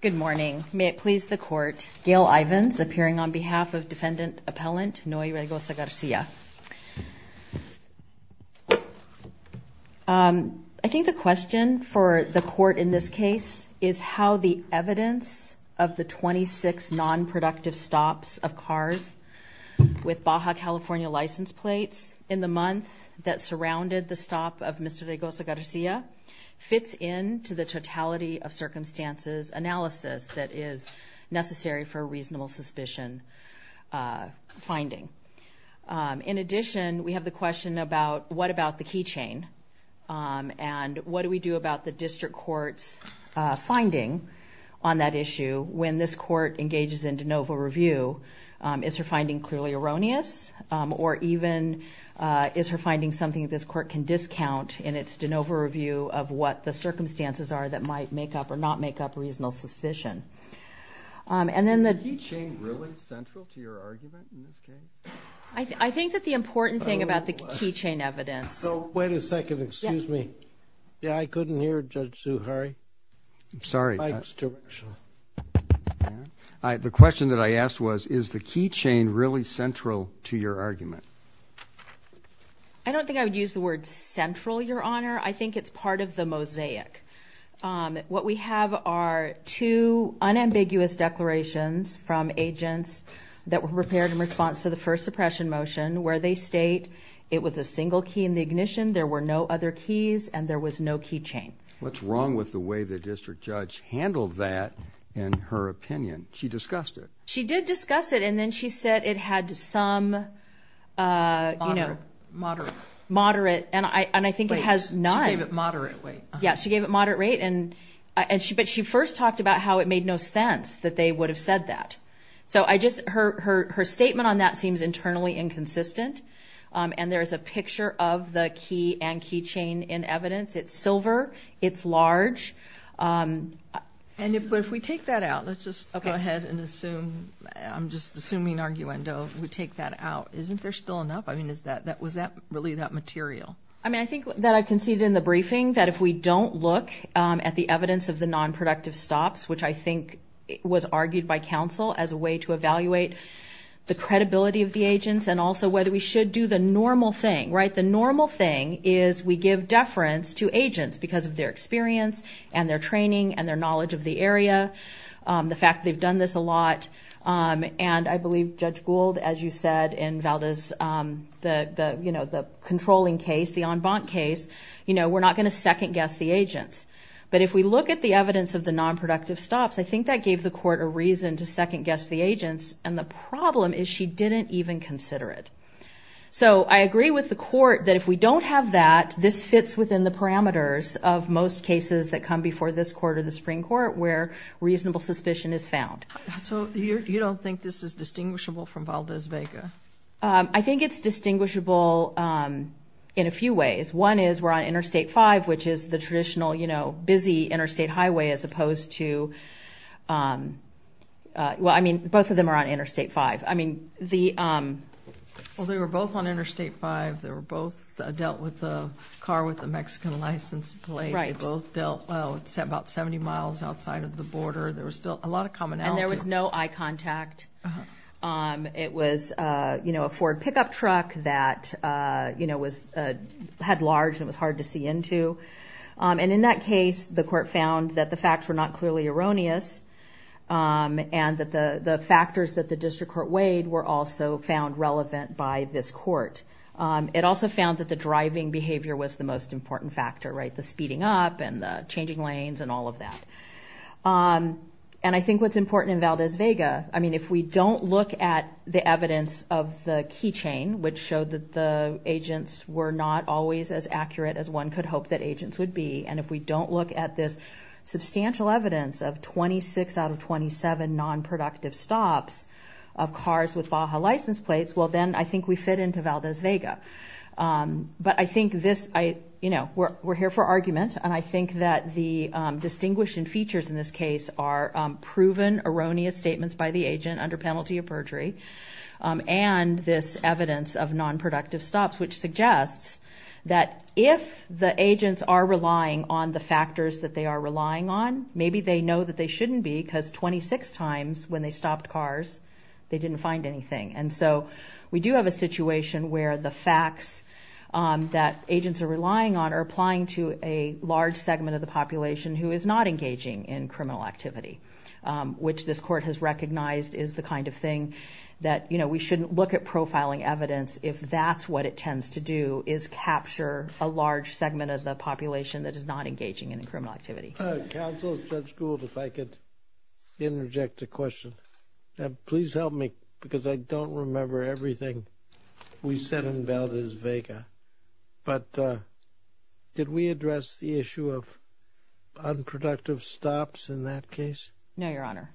Good morning. May it please the court, Gail Ivins appearing on behalf of defendant appellant Noe Raygoza-Garcia. I think the question for the court in this case is how the evidence of the 26 non-productive stops of cars with Baja California license plates in the month that surrounded the stop of Mr. Raygoza- Garcia's car with Baja California license plate was found. And I think the question for the court in this case is how the evidence of the 26 non-productive stops of cars with Baja California license plates in the month that surrounded the stop of Mr. Raygoza-Garcia's car with Baja California license plate was found. And I think the question for the court in this case is how the evidence of the 26 non-productive stops of cars with Baja California license plates in the month that surrounded the stop of Mr. Raygoza-Garcia's car with Baja California license plate was found. And I think the question for the court in What we have are two unambiguous declarations from agents that were prepared in response to the first suppression motion where they state it was a single key in the ignition there were no other keys and there was no key chain. What's wrong with the way the district judge handled that in her opinion? She discussed it. She did discuss it and then she said it had some moderate and I think it has none. She gave it moderate rate. But she first talked about how it made no sense that they would have said that. So her statement on that seems internally inconsistent and there is a picture of the key and key chain in evidence. It's silver. It's large. But if we take that out, let's just go ahead and assume, I'm just assuming arguendo, we take that out. Isn't there still enough? I mean was that really that material? I mean I think that I conceded in the briefing that if we don't look at the evidence of the nonproductive stops, which I think was argued by counsel as a way to evaluate the credibility of the agents and also whether we should do the normal thing, right? The normal thing is we give deference to agents because of their experience and their training and their knowledge of the area. The fact they've done this a lot and I believe Judge Gould, as you said in Valda's, the controlling case, the en banc case, you know, we're not going to second guess the agents. But if we look at the evidence of the nonproductive stops, I think that gave the court a reason to second guess the agents and the problem is she didn't even consider it. So I agree with the court that if we don't have that, this fits within the parameters of most cases that come before this court or the Supreme Court where reasonable suspicion is found. So you don't think this is distinguishable from Valda's vega? I think it's distinguishable in a few ways. One is we're on Interstate 5, which is the traditional, you know, busy interstate highway as opposed to... Well, I mean, both of them are on Interstate 5. I mean, the... Well, they were both on Interstate 5. They were both dealt with the car with the Mexican license plate. They both dealt about 70 miles outside of the border. There was still a lot of commonality. And there was no eye contact. It was, you know, a Ford pickup truck that, you know, had large and was hard to see into. And in that case, the court found that the facts were not clearly erroneous and that the factors that the district court weighed were also found relevant by this court. It also found that the driving behavior was the most important factor, right? The speeding up and the changing lanes and all of that. And I think what's important in Valda's vega, I mean, if we don't look at the evidence of the key chain, which showed that the agents were not always as accurate as one could hope that agents would be, and if we don't look at this substantial evidence of 26 out of 27 nonproductive stops of cars with Baja license plates, well, then I think we fit into Valda's vega. But I think this, you know, we're here for argument, and I think that the distinguishing features in this case are proven erroneous statements by the agent under penalty of perjury, and this evidence of nonproductive stops, which suggests that if the agents are relying on the factors that they are relying on, maybe they know that they shouldn't be because 26 times when they stopped cars, they didn't find anything. And so we do have a situation where the facts that agents are relying on are applying to a large segment of the population that is not engaging in criminal activity, which this court has recognized is the kind of thing that, you know, we shouldn't look at profiling evidence if that's what it tends to do is capture a large segment of the population that is not engaging in criminal activity. Counsel, Judge Gould, if I could interject a question. Please help me because I don't remember everything we said in Valda's vega. But did we address the issue of unproductive stops in that case? No, Your Honor.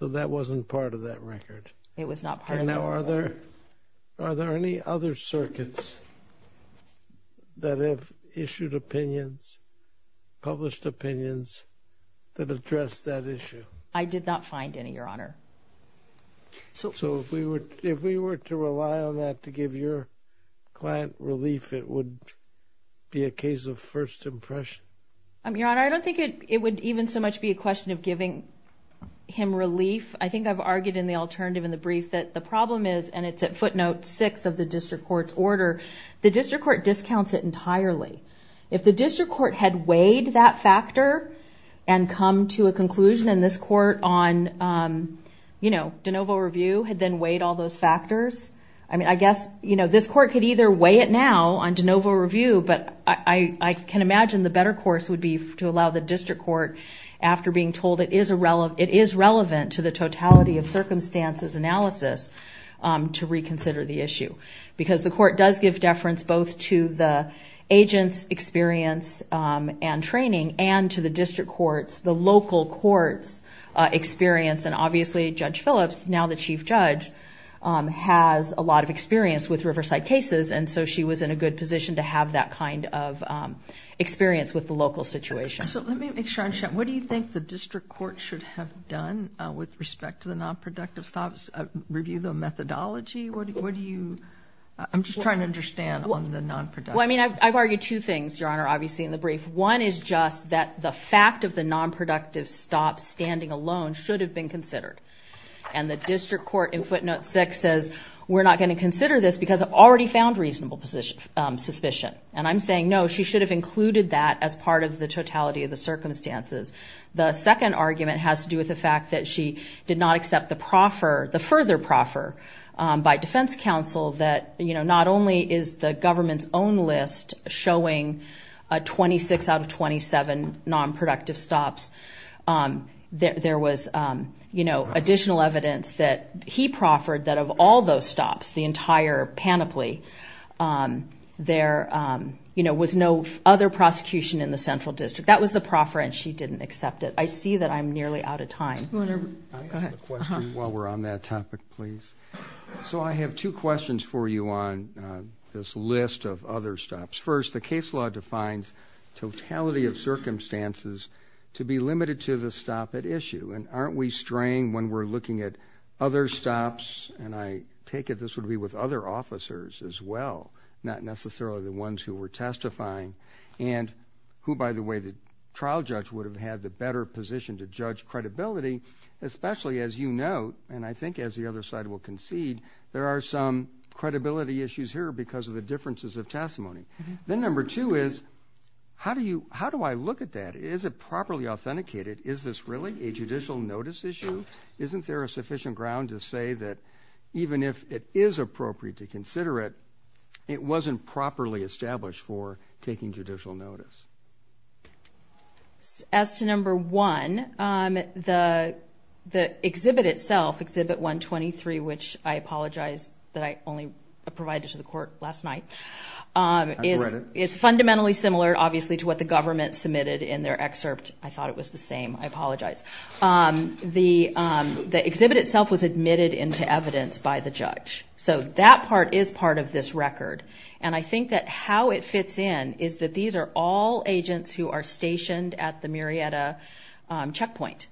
So that wasn't part of that record? It was not part of that record. Now, are there any other circuits that have issued opinions, published opinions that address that issue? I did not find any, Your Honor. So if we were to rely on that to give your client relief, it would be a case of first impression? Your Honor, I don't think it would even so much be a question of giving him relief. I think I've argued in the alternative in the brief that the problem is, and it's at footnote six of the district court's order, the district court discounts it entirely. If the district court had weighed that factor and come to a conclusion in this court on de novo review, had then weighed all those factors, I mean, I guess this court could either weigh it now on de novo review, but I can imagine the better course would be to allow the district court, after being told it is relevant to the totality of circumstances analysis, to reconsider the issue. Because the court does give deference both to the agent's experience and training and to the district court's, the local court's experience. And obviously, Judge Phillips, now the chief judge, has a lot of experience with Riverside cases, and so she was in a good position to have that kind of experience with the local situation. So let me make sure I understand. What do you think the district court should have done with respect to the nonproductive stops? Review the methodology? What do you... I'm just trying to understand on the nonproductive. Well, I mean, I've argued two things, Your Honor, obviously in the brief. One is just that the fact of the nonproductive stops standing alone should have been considered. And the district court in footnote 6 says, we're not going to consider this because I've already found reasonable suspicion. And I'm saying, no, she should have included that as part of the totality of the circumstances. The second argument has to do with the fact that she did not accept the proffer, the further proffer, by defense counsel that, you know, not only is the government's own list showing 26 out of 27 nonproductive stops, there was, you know, additional evidence that he proffered that of all those stops, the entire panoply, there, you know, was no other prosecution in the central district. That was the proffer, and she didn't accept it. I see that I'm nearly out of time. Go ahead. I have a question while we're on that topic, please. So I have two questions for you on this list of other stops. First, the case law defines totality of circumstances to be limited to the stop at issue. And aren't we straying when we're looking at other stops, and I take it this would be with other officers as well, not necessarily the ones who were testifying, and who, by the way, the trial judge would have had the better position to judge credibility, especially as you note, and I think as the other side will concede, there are some credibility issues here because of the differences of testimony. Then number two is, how do I look at that? Is it properly authenticated? Is this really a judicial notice issue? Isn't there a sufficient ground to say that even if it is appropriate to consider it, it wasn't properly established for taking judicial notice? As to number one, the exhibit itself, Exhibit 123, which I apologize that I only provided to the court last night, is fundamentally similar, obviously, to what the government submitted in their excerpt. I thought it was the same. I apologize. The exhibit itself was admitted into evidence by the judge. So that part is part of this record. I think that how it fits in is that these are all agents who are stationed at the Murrieta checkpoint.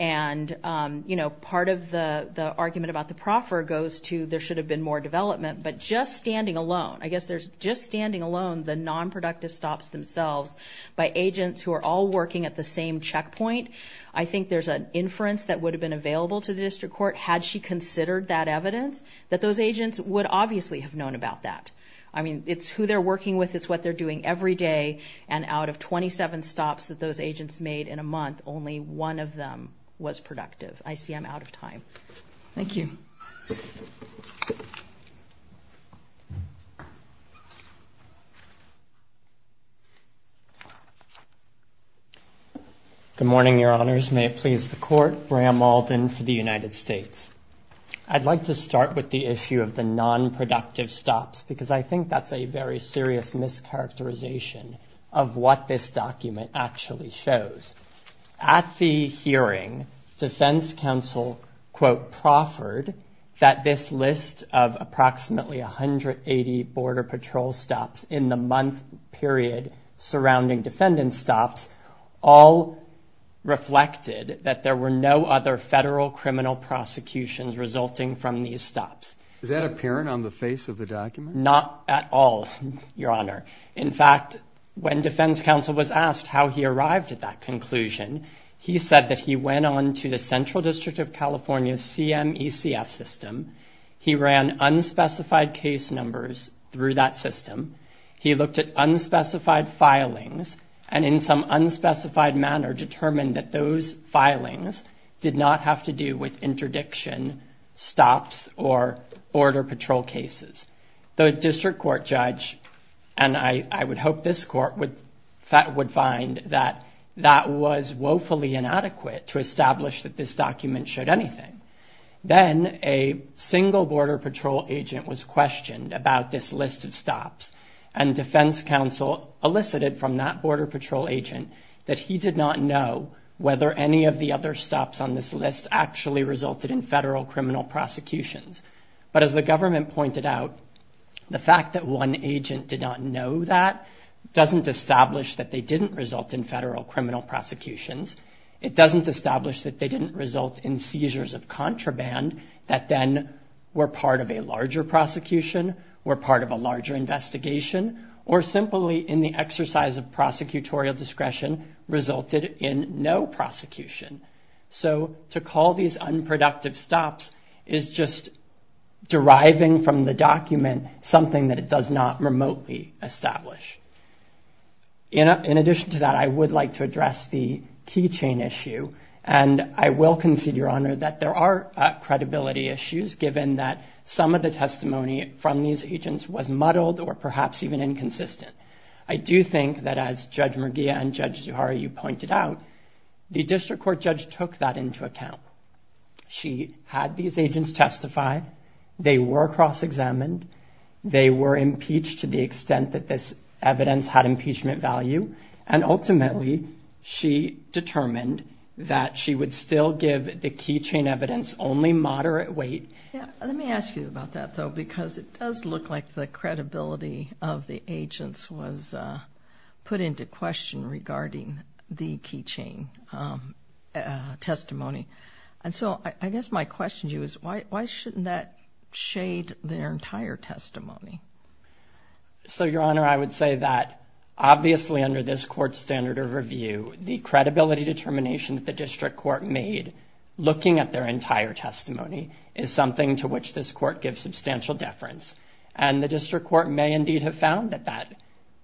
Part of the argument about the proffer goes to there should have been more development, but just standing alone, I guess there's just standing alone the nonproductive stops themselves by agents who are all working at the same checkpoint, I think there's an inference that would have been available to the district court had she considered that evidence, that those agents would obviously have known about that. I mean, it's who they're working with, it's what they're doing every day, and out of 27 stops that those agents made in a month, only one of them was productive. I see I'm out of time. Thank you. Good morning, Your Honors. May it please the court. Bram Alden for the United States. I'd like to start with the issue of the nonproductive stops, because I think that's a very serious mischaracterization of what this document actually shows. At the hearing, defense counsel, quote, proffered that this list of approximately 180 border patrol stops in the month period surrounding defendant stops all reflected that there were no other federal criminal prosecutions resulting from these stops. Is that apparent on the face of the document? Not at all, Your Honor. In fact, when defense counsel was asked how he arrived at that conclusion, he said that he went on to the Central District of California CMECF system, he ran unspecified case numbers through that system, he looked at unspecified filings, and in some unspecified manner determined that those filings did not have to do with interdiction stops or border patrol cases. The district court judge, and I would hope this court would find that that was woefully inadequate to establish that this document showed anything. Then a single border patrol agent was questioned about this list of stops, and defense counsel elicited from that border patrol agent that he did not know whether any of the other stops on this list actually resulted in federal criminal prosecutions. But as the government pointed out, the fact that one agent did not know that doesn't establish that they didn't result in federal criminal prosecutions. It doesn't establish that they didn't result in seizures of contraband that then were part of a larger prosecution, were part of a larger investigation, or simply in the exercise of prosecutorial discretion resulted in no prosecution. So to call these unproductive stops is just deriving from the document something that it does not remotely establish. In addition to that, I would like to address the key chain issue, and I will concede, Your Honor, that there are credibility issues given that some of the I do think that as Judge Merguia and Judge Zuhara, you pointed out, the district court judge took that into account. She had these agents testify. They were cross-examined. They were impeached to the extent that this evidence had impeachment value, and ultimately, she determined that she would still give the key chain evidence only moderate weight. Let me ask you about that, though, because it does look like the credibility of the agents was put into question regarding the key chain testimony. And so I guess my question to you is why shouldn't that shade their entire testimony? So, Your Honor, I would say that obviously under this court's standard of review, the credibility determination that the district court made looking at their entire testimony is something to which this court gives substantial deference. And the district court may indeed have found that that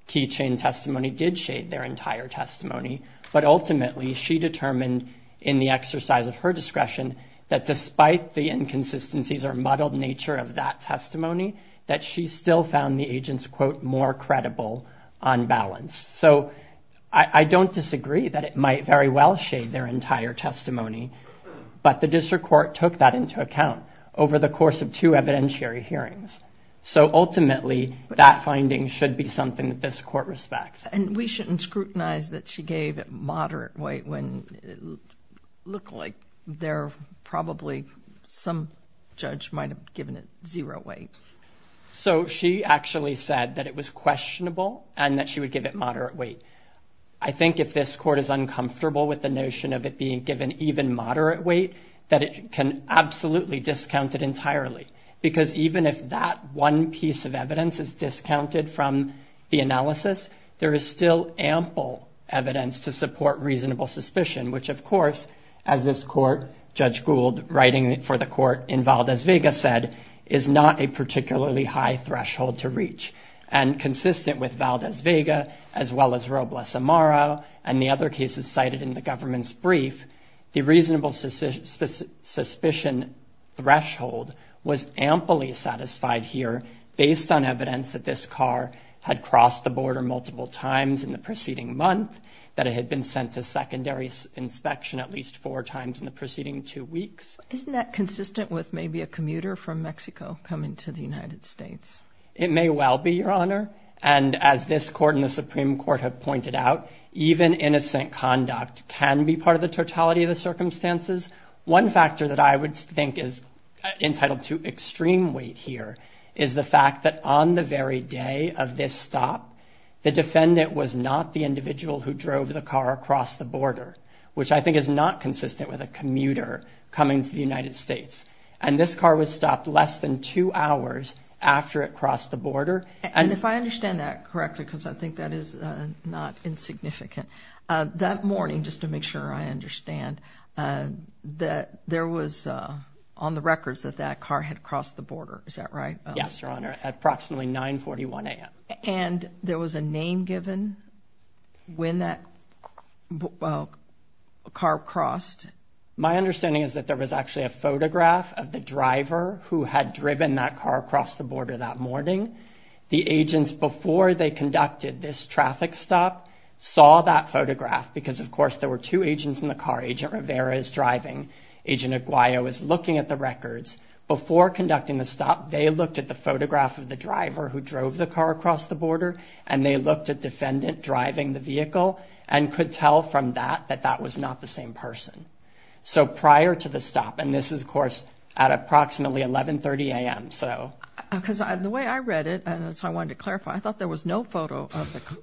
key chain testimony did shade their entire testimony, but ultimately, she determined in the exercise of her discretion that despite the inconsistencies or muddled nature of that testimony, that she still found the agents, quote, more credible on balance. So I don't disagree that it might very well shade their entire testimony, but the district court took that into account over the course of two evidentiary hearings. So ultimately, that finding should be something that this court respects. And we shouldn't scrutinize that she gave it moderate weight when it looked like there probably some judge might have given it zero weight. So she actually said that it was questionable and that she would give it moderate weight. I think if this court is uncomfortable with the notion of it being given even moderate weight, that it can absolutely discount it entirely. Because even if that one piece of evidence is discounted from the analysis, there is still ample evidence to support reasonable suspicion, which of course, as this court, Judge Gould, writing for the court in Valdez-Vega said, is not a particularly high threshold to reach. And consistent with Valdez-Vega, as well as Robles-Amaro, and the other cases cited in the government's brief, the reasonable suspicion threshold was amply satisfied here based on evidence that this car had crossed the border multiple times in the preceding month, that it had been sent to secondary inspection at least four times in the preceding two weeks. Isn't that consistent with maybe a commuter from Mexico coming to the United States? It may well be, Your Honor. And as this court and the Supreme Court have pointed out, even innocent conduct can be part of the totality of the circumstances. One factor that I would think is entitled to extreme weight here is the fact that on the very day of this stop, the defendant was not the individual who drove the car across the border, which I think is not consistent with a commuter coming to the United States. And this car was stopped less than two hours after it crossed the border. And if I understand that correctly, because I think that is not insignificant, that morning, just to make sure I understand, there was on the records that that car had crossed the border, is that right? Yes, Your Honor, at approximately 9.41 a.m. And there was a name given when that car crossed? My understanding is that there was actually a photograph of the driver who had The agents before they conducted this traffic stop saw that photograph, because, of course, there were two agents in the car. Agent Rivera is driving. Agent Aguayo is looking at the records. Before conducting the stop, they looked at the photograph of the driver who drove the car across the border, and they looked at defendant driving the vehicle and could tell from that that that was not the same person. So prior to the stop, and this is, of course, at approximately 11.30 a.m., so. Because the way I read it, and that's how I wanted to clarify, I thought there was no photo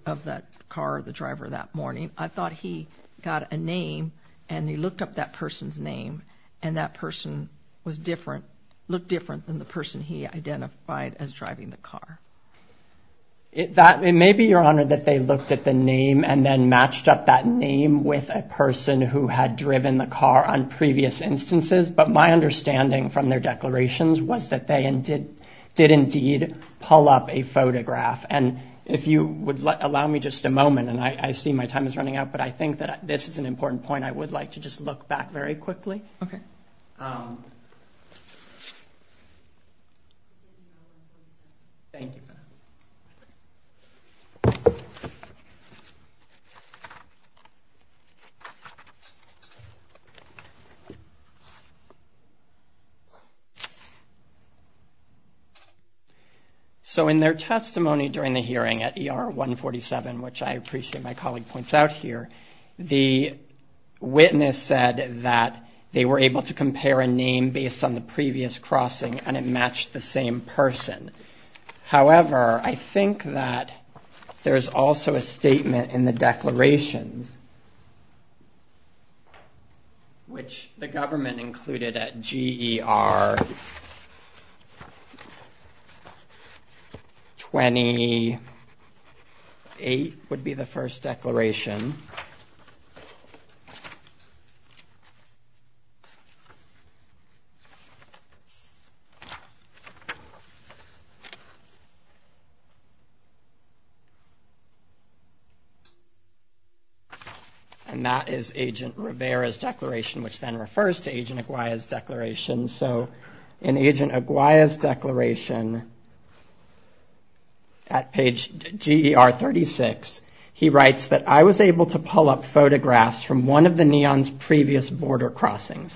of that car or the driver that morning. I thought he got a name, and he looked up that person's name, and that person was different, looked different than the person he identified as driving the car. It may be, Your Honor, that they looked at the name and then matched up that name with a person who had driven the car on previous instances, but my understanding from their declarations was that they did indeed pull up a photograph. And if you would allow me just a moment, and I see my time is running out, but I think that this is an important point I would like to just look back very quickly. Okay. Thank you. So in their testimony during the hearing at ER 147, which I appreciate my colleague points out here, the witness said that they were able to compare a name based on the previous crossing, and it matched the same person. However, I think that there's also a statement in the declarations, which the government included at GER 28 would be the first declaration, and that is Agent Rivera's declaration, which then refers to Agent Aguaya's declaration. So in Agent Aguaya's declaration at page GER 36, he writes that, I was able to pull up photographs from one of the NEON's previous border crossings.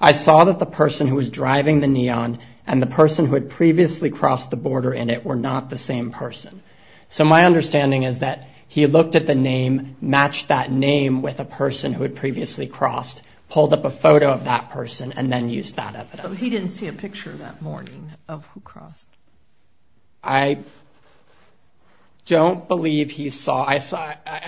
I saw that the person who was driving the NEON and the person who had previously crossed the border in it were not the same person. So my understanding is that he looked at the name, matched that name with a person who had previously crossed, pulled up a photo of that person, and then used that evidence. He didn't see a picture that morning of who crossed. I don't believe he saw.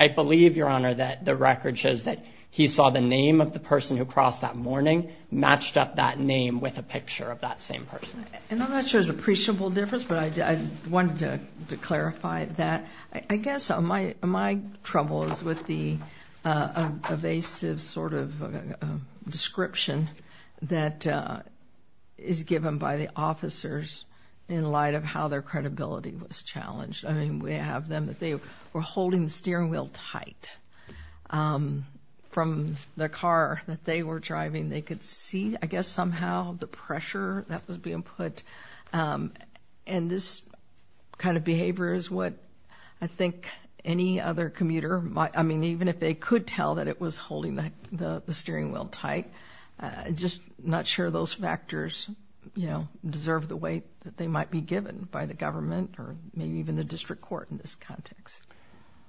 I believe, Your Honor, that the record shows that he saw the name of the person who crossed that morning, matched up that name with a picture of that same person. And I'm not sure there's an appreciable difference, but I wanted to clarify that. I guess my trouble is with the evasive sort of description that is given by the officers in light of how their credibility was challenged. I mean, we have them that they were holding the steering wheel tight from the car that they were driving. They could see, I guess, somehow the pressure that was being put. And this kind of behavior is what I think any other commuter might, I mean, even if they could tell that it was holding the steering wheel tight, just not sure those factors deserve the weight that they might be given by the government or maybe even the district court in this context.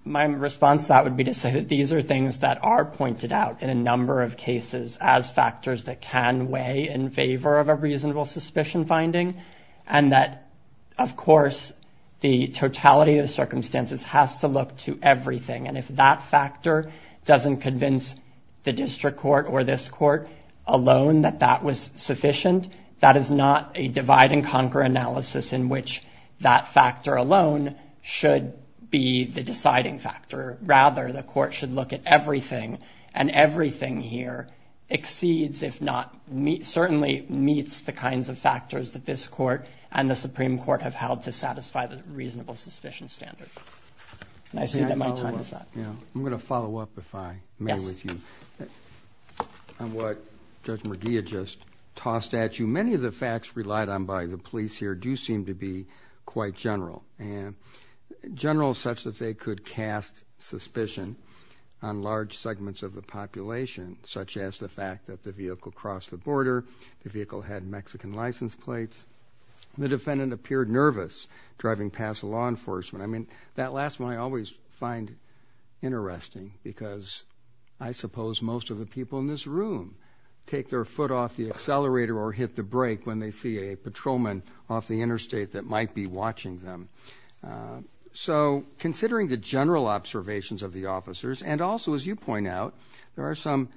My response to that would be to say that these are things that are pointed out in a number of cases as factors that can weigh in favor of a reasonable suspicion finding, and that, of course, the totality of the circumstances has to look to everything. And if that factor doesn't convince the district court or this court alone that that was sufficient, that is not a divide-and-conquer analysis in which that factor alone should be the deciding factor. Rather, the court should look at everything, and everything here exceeds, if not certainly meets, the kinds of factors that this court and the Supreme Court have held to satisfy the reasonable suspicion standard. I see that my time is up. I'm going to follow up, if I may, with you on what Judge McGee had just tossed at you. Many of the facts relied on by the police here do seem to be quite general, general such that they could cast suspicion on large segments of the population, such as the fact that the vehicle crossed the border, the vehicle had Mexican license plates, the defendant appeared nervous driving past the law enforcement. I mean, that last one I always find interesting because I suppose most of the people in this room take their foot off the accelerator or hit the brake when they see a patrolman off the interstate that might be watching them. So considering the general observations of the officers, and also, as you point out, there are some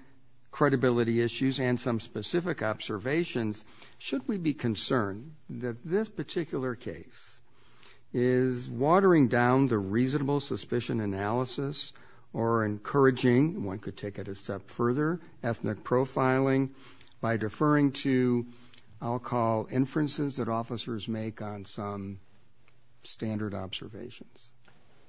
credibility issues and some specific observations, should we be concerned that this particular case is watering down the reasonable suspicion analysis or encouraging, one could take it a step further, ethnic profiling by deferring to, I'll call, inferences that officers make on some standard observations?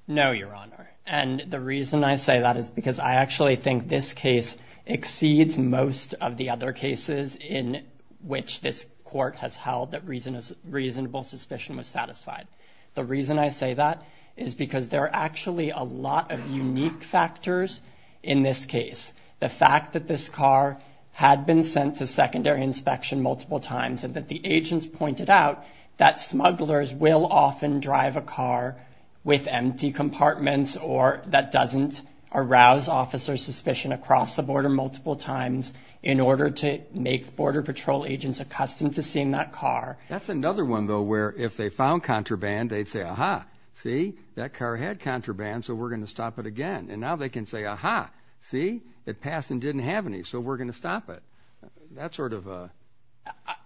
No, Your Honor, and the reason I say that is because I actually think this case exceeds most of the other cases in which this court has held that reasonable suspicion was satisfied. The reason I say that is because there are actually a lot of unique factors in this case. The fact that this car had been sent to secondary inspection multiple times and that the agents pointed out that smugglers will often drive a car with empty compartments or that doesn't arouse officers' suspicion across the border multiple times in order to make Border Patrol agents accustomed to seeing that car. That's another one, though, where if they found contraband, they'd say, Aha, see, that car had contraband, so we're going to stop it again. And now they can say, Aha, see, it passed and didn't have any, so we're going to stop it. That's sort of a...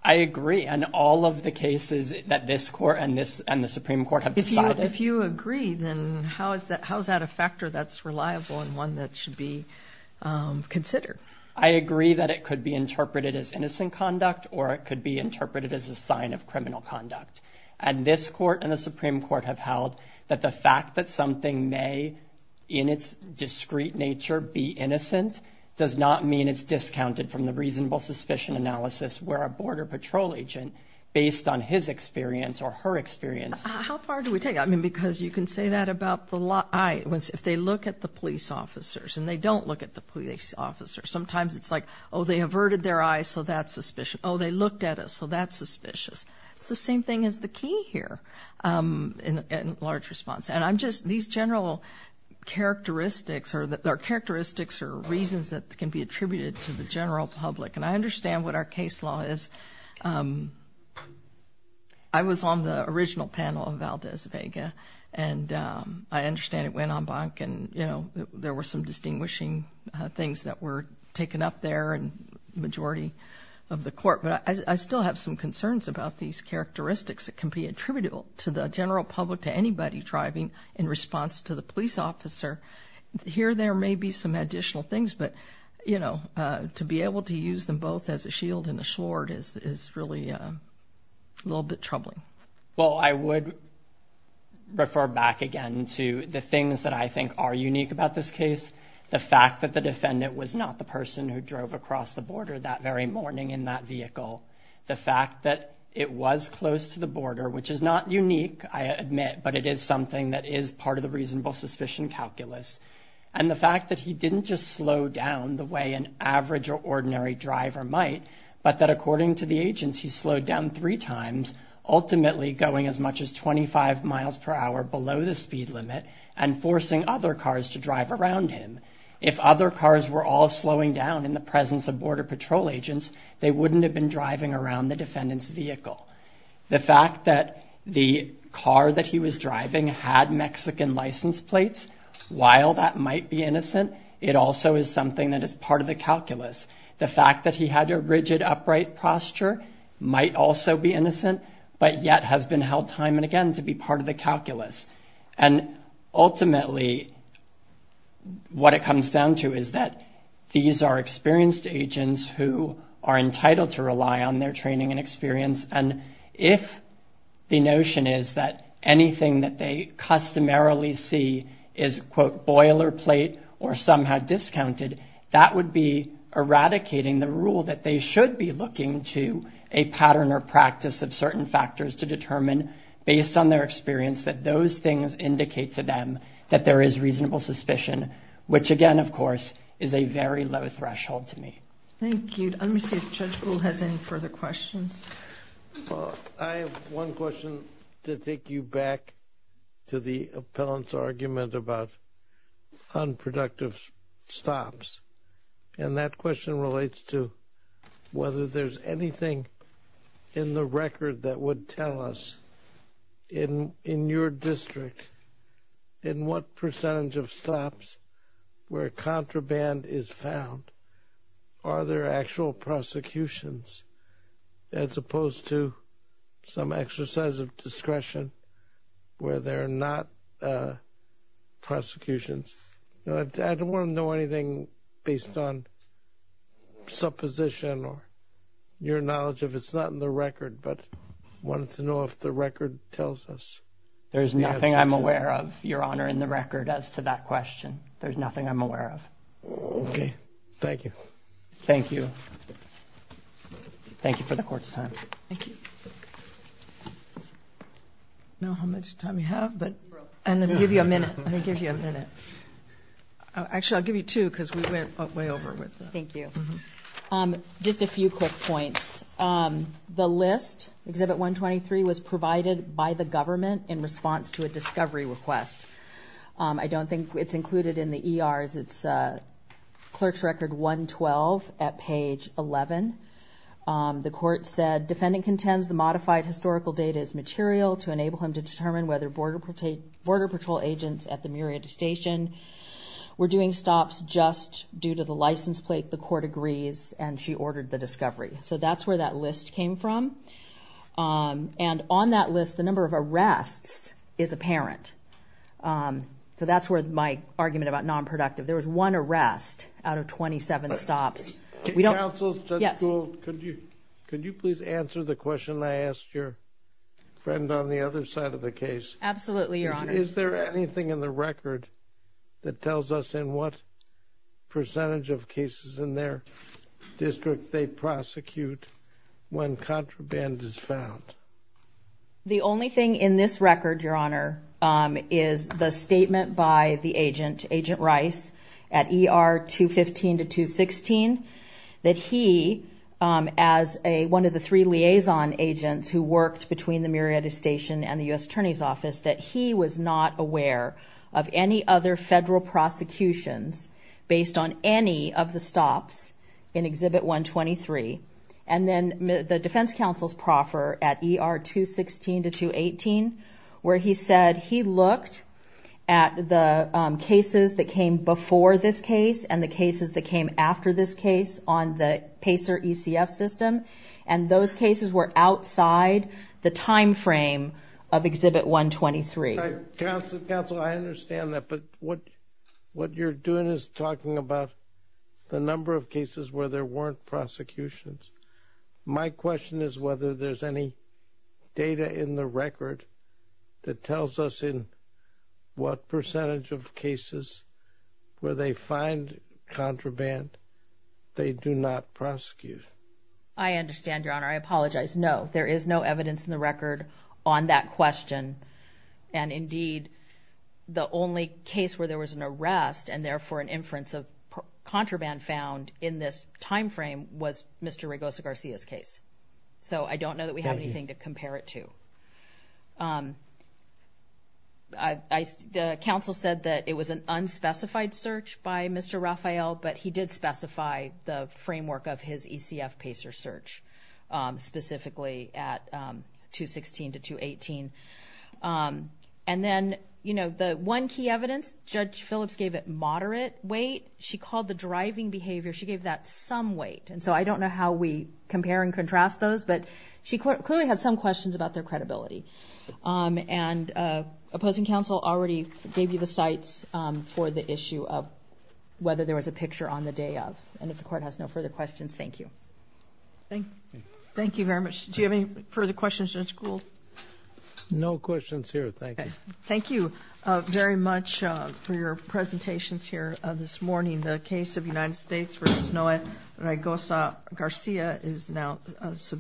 I agree, and all of the cases that this court and the Supreme Court have decided... If you agree, then how is that a factor that's reliable and one that should be considered? I agree that it could be interpreted as innocent conduct or it could be interpreted as a sign of criminal conduct. And this court and the Supreme Court have held that the fact that something may, in its discreet nature, be innocent does not mean it's discounted from the reasonable suspicion analysis where a Border Patrol agent, based on his experience or her experience... How far do we take it? I mean, because you can say that about the law... If they look at the police officers and they don't look at the police officers, sometimes it's like, oh, they averted their eyes, so that's suspicious. Oh, they looked at us, so that's suspicious. It's the same thing as the key here in large response. And I'm just... These general characteristics are reasons that can be attributed to the general public. And I understand what our case law is. I was on the original panel of Valdez Vega, and I understand it went en banc, and there were some distinguishing things that were taken up there in the majority of the court. But I still have some concerns about these characteristics that can be attributable to the general public, to anybody driving in response to the police officer. Here there may be some additional things, but, you know, to be able to use them both as a shield and a sword is really a little bit troubling. Well, I would refer back again to the things that I think are unique about this case. The fact that the defendant was not the person who drove across the border that very morning in that vehicle. The fact that it was close to the border, which is not unique, I admit, but it is something that is part of the reasonable suspicion calculus. And the fact that he didn't just slow down the way an average or ordinary driver might, but that, according to the agents, he slowed down three times, ultimately going as much as 25 miles per hour below the speed limit and forcing other cars to drive around him. If other cars were all slowing down in the presence of Border Patrol agents, they wouldn't have been driving around the defendant's vehicle. The fact that the car that he was driving had Mexican license plates, while that might be innocent, it also is something that is part of the calculus. The fact that he had a rigid, upright posture might also be innocent, but yet has been held time and again to be part of the calculus. And ultimately what it comes down to is that these are experienced agents who are entitled to rely on their training and experience. And if the notion is that anything that they customarily see is, quote, boilerplate or somehow discounted, that would be eradicating the rule that they should be looking to a pattern or practice of certain factors to determine, based on their experience, that those things indicate to them that there is reasonable suspicion, which again, of course, is a very low threshold to meet. Thank you. Let me see if Judge Gould has any further questions. I have one question to take you back to the appellant's argument about unproductive stops. And that question relates to whether there's anything in the record that would tell us, in your district, in what percentage of stops where contraband is found, are there actual prosecutions as opposed to some exercise of discretion where there are not prosecutions. I don't want to know anything based on supposition or your knowledge of it. It's not in the record, but I wanted to know if the record tells us. There's nothing I'm aware of, Your Honor, in the record as to that question. There's nothing I'm aware of. Okay. Thank you. Thank you. Thank you for the court's time. Thank you. I don't know how much time we have, but... Actually, I'll give you two because we went way over with that. Thank you. Just a few quick points. The list, Exhibit 123, was provided by the government in response to a discovery request. I don't think it's included in the ERs. It's Clerk's Record 112 at page 11. The court said, The defendant contends the modified historical data is material to enable him to determine whether Border Patrol agents at the Muria Station were doing stops just due to the license plate. The court agrees, and she ordered the discovery. So that's where that list came from. And on that list, the number of arrests is apparent. So that's where my argument about nonproductive. There was one arrest out of 27 stops. Counsel, Judge Gould, could you please answer the question I asked your friend on the other side of the case? Absolutely, Your Honor. Is there anything in the record that tells us in what percentage of cases in their district they prosecute when contraband is found? The only thing in this record, Your Honor, is the statement by the agent, Agent Rice, at ER 215 to 216, that he, as one of the three liaison agents who worked between the Muria Station and the U.S. Attorney's Office, that he was not aware of any other federal prosecutions based on any of the stops in Exhibit 123. And then the defense counsel's proffer at ER 216 to 218, where he said he looked at the cases that came before this case and the cases that came after this case on the PACER ECF system, and those cases were outside the timeframe of Exhibit 123. Counsel, I understand that, but what you're doing is talking about the number of cases where there weren't prosecutions. My question is whether there's any data in the record that tells us in what percentage of cases, where they find contraband, they do not prosecute. I understand, Your Honor. I apologize. No, there is no evidence in the record on that question. And indeed, the only case where there was an arrest and therefore an inference of contraband found in this timeframe was Mr. Regosa-Garcia's case. So I don't know that we have anything to compare it to. The counsel said that it was an unspecified search by Mr. Rafael, but he did specify the framework of his ECF PACER search, specifically at 216 to 218. And then the one key evidence, Judge Phillips gave it moderate weight. She called the driving behavior, she gave that some weight. And so I don't know how we compare and contrast those, but she clearly had some questions about their credibility. And opposing counsel already gave you the sites for the issue of whether there was a picture on the day of. And if the Court has no further questions, thank you. Thank you very much. Do you have any further questions, Judge Gould? No questions here. Thank you. Thank you very much for your presentations here this morning. The case of United States v. Noah Regosa-Garcia is now submitted.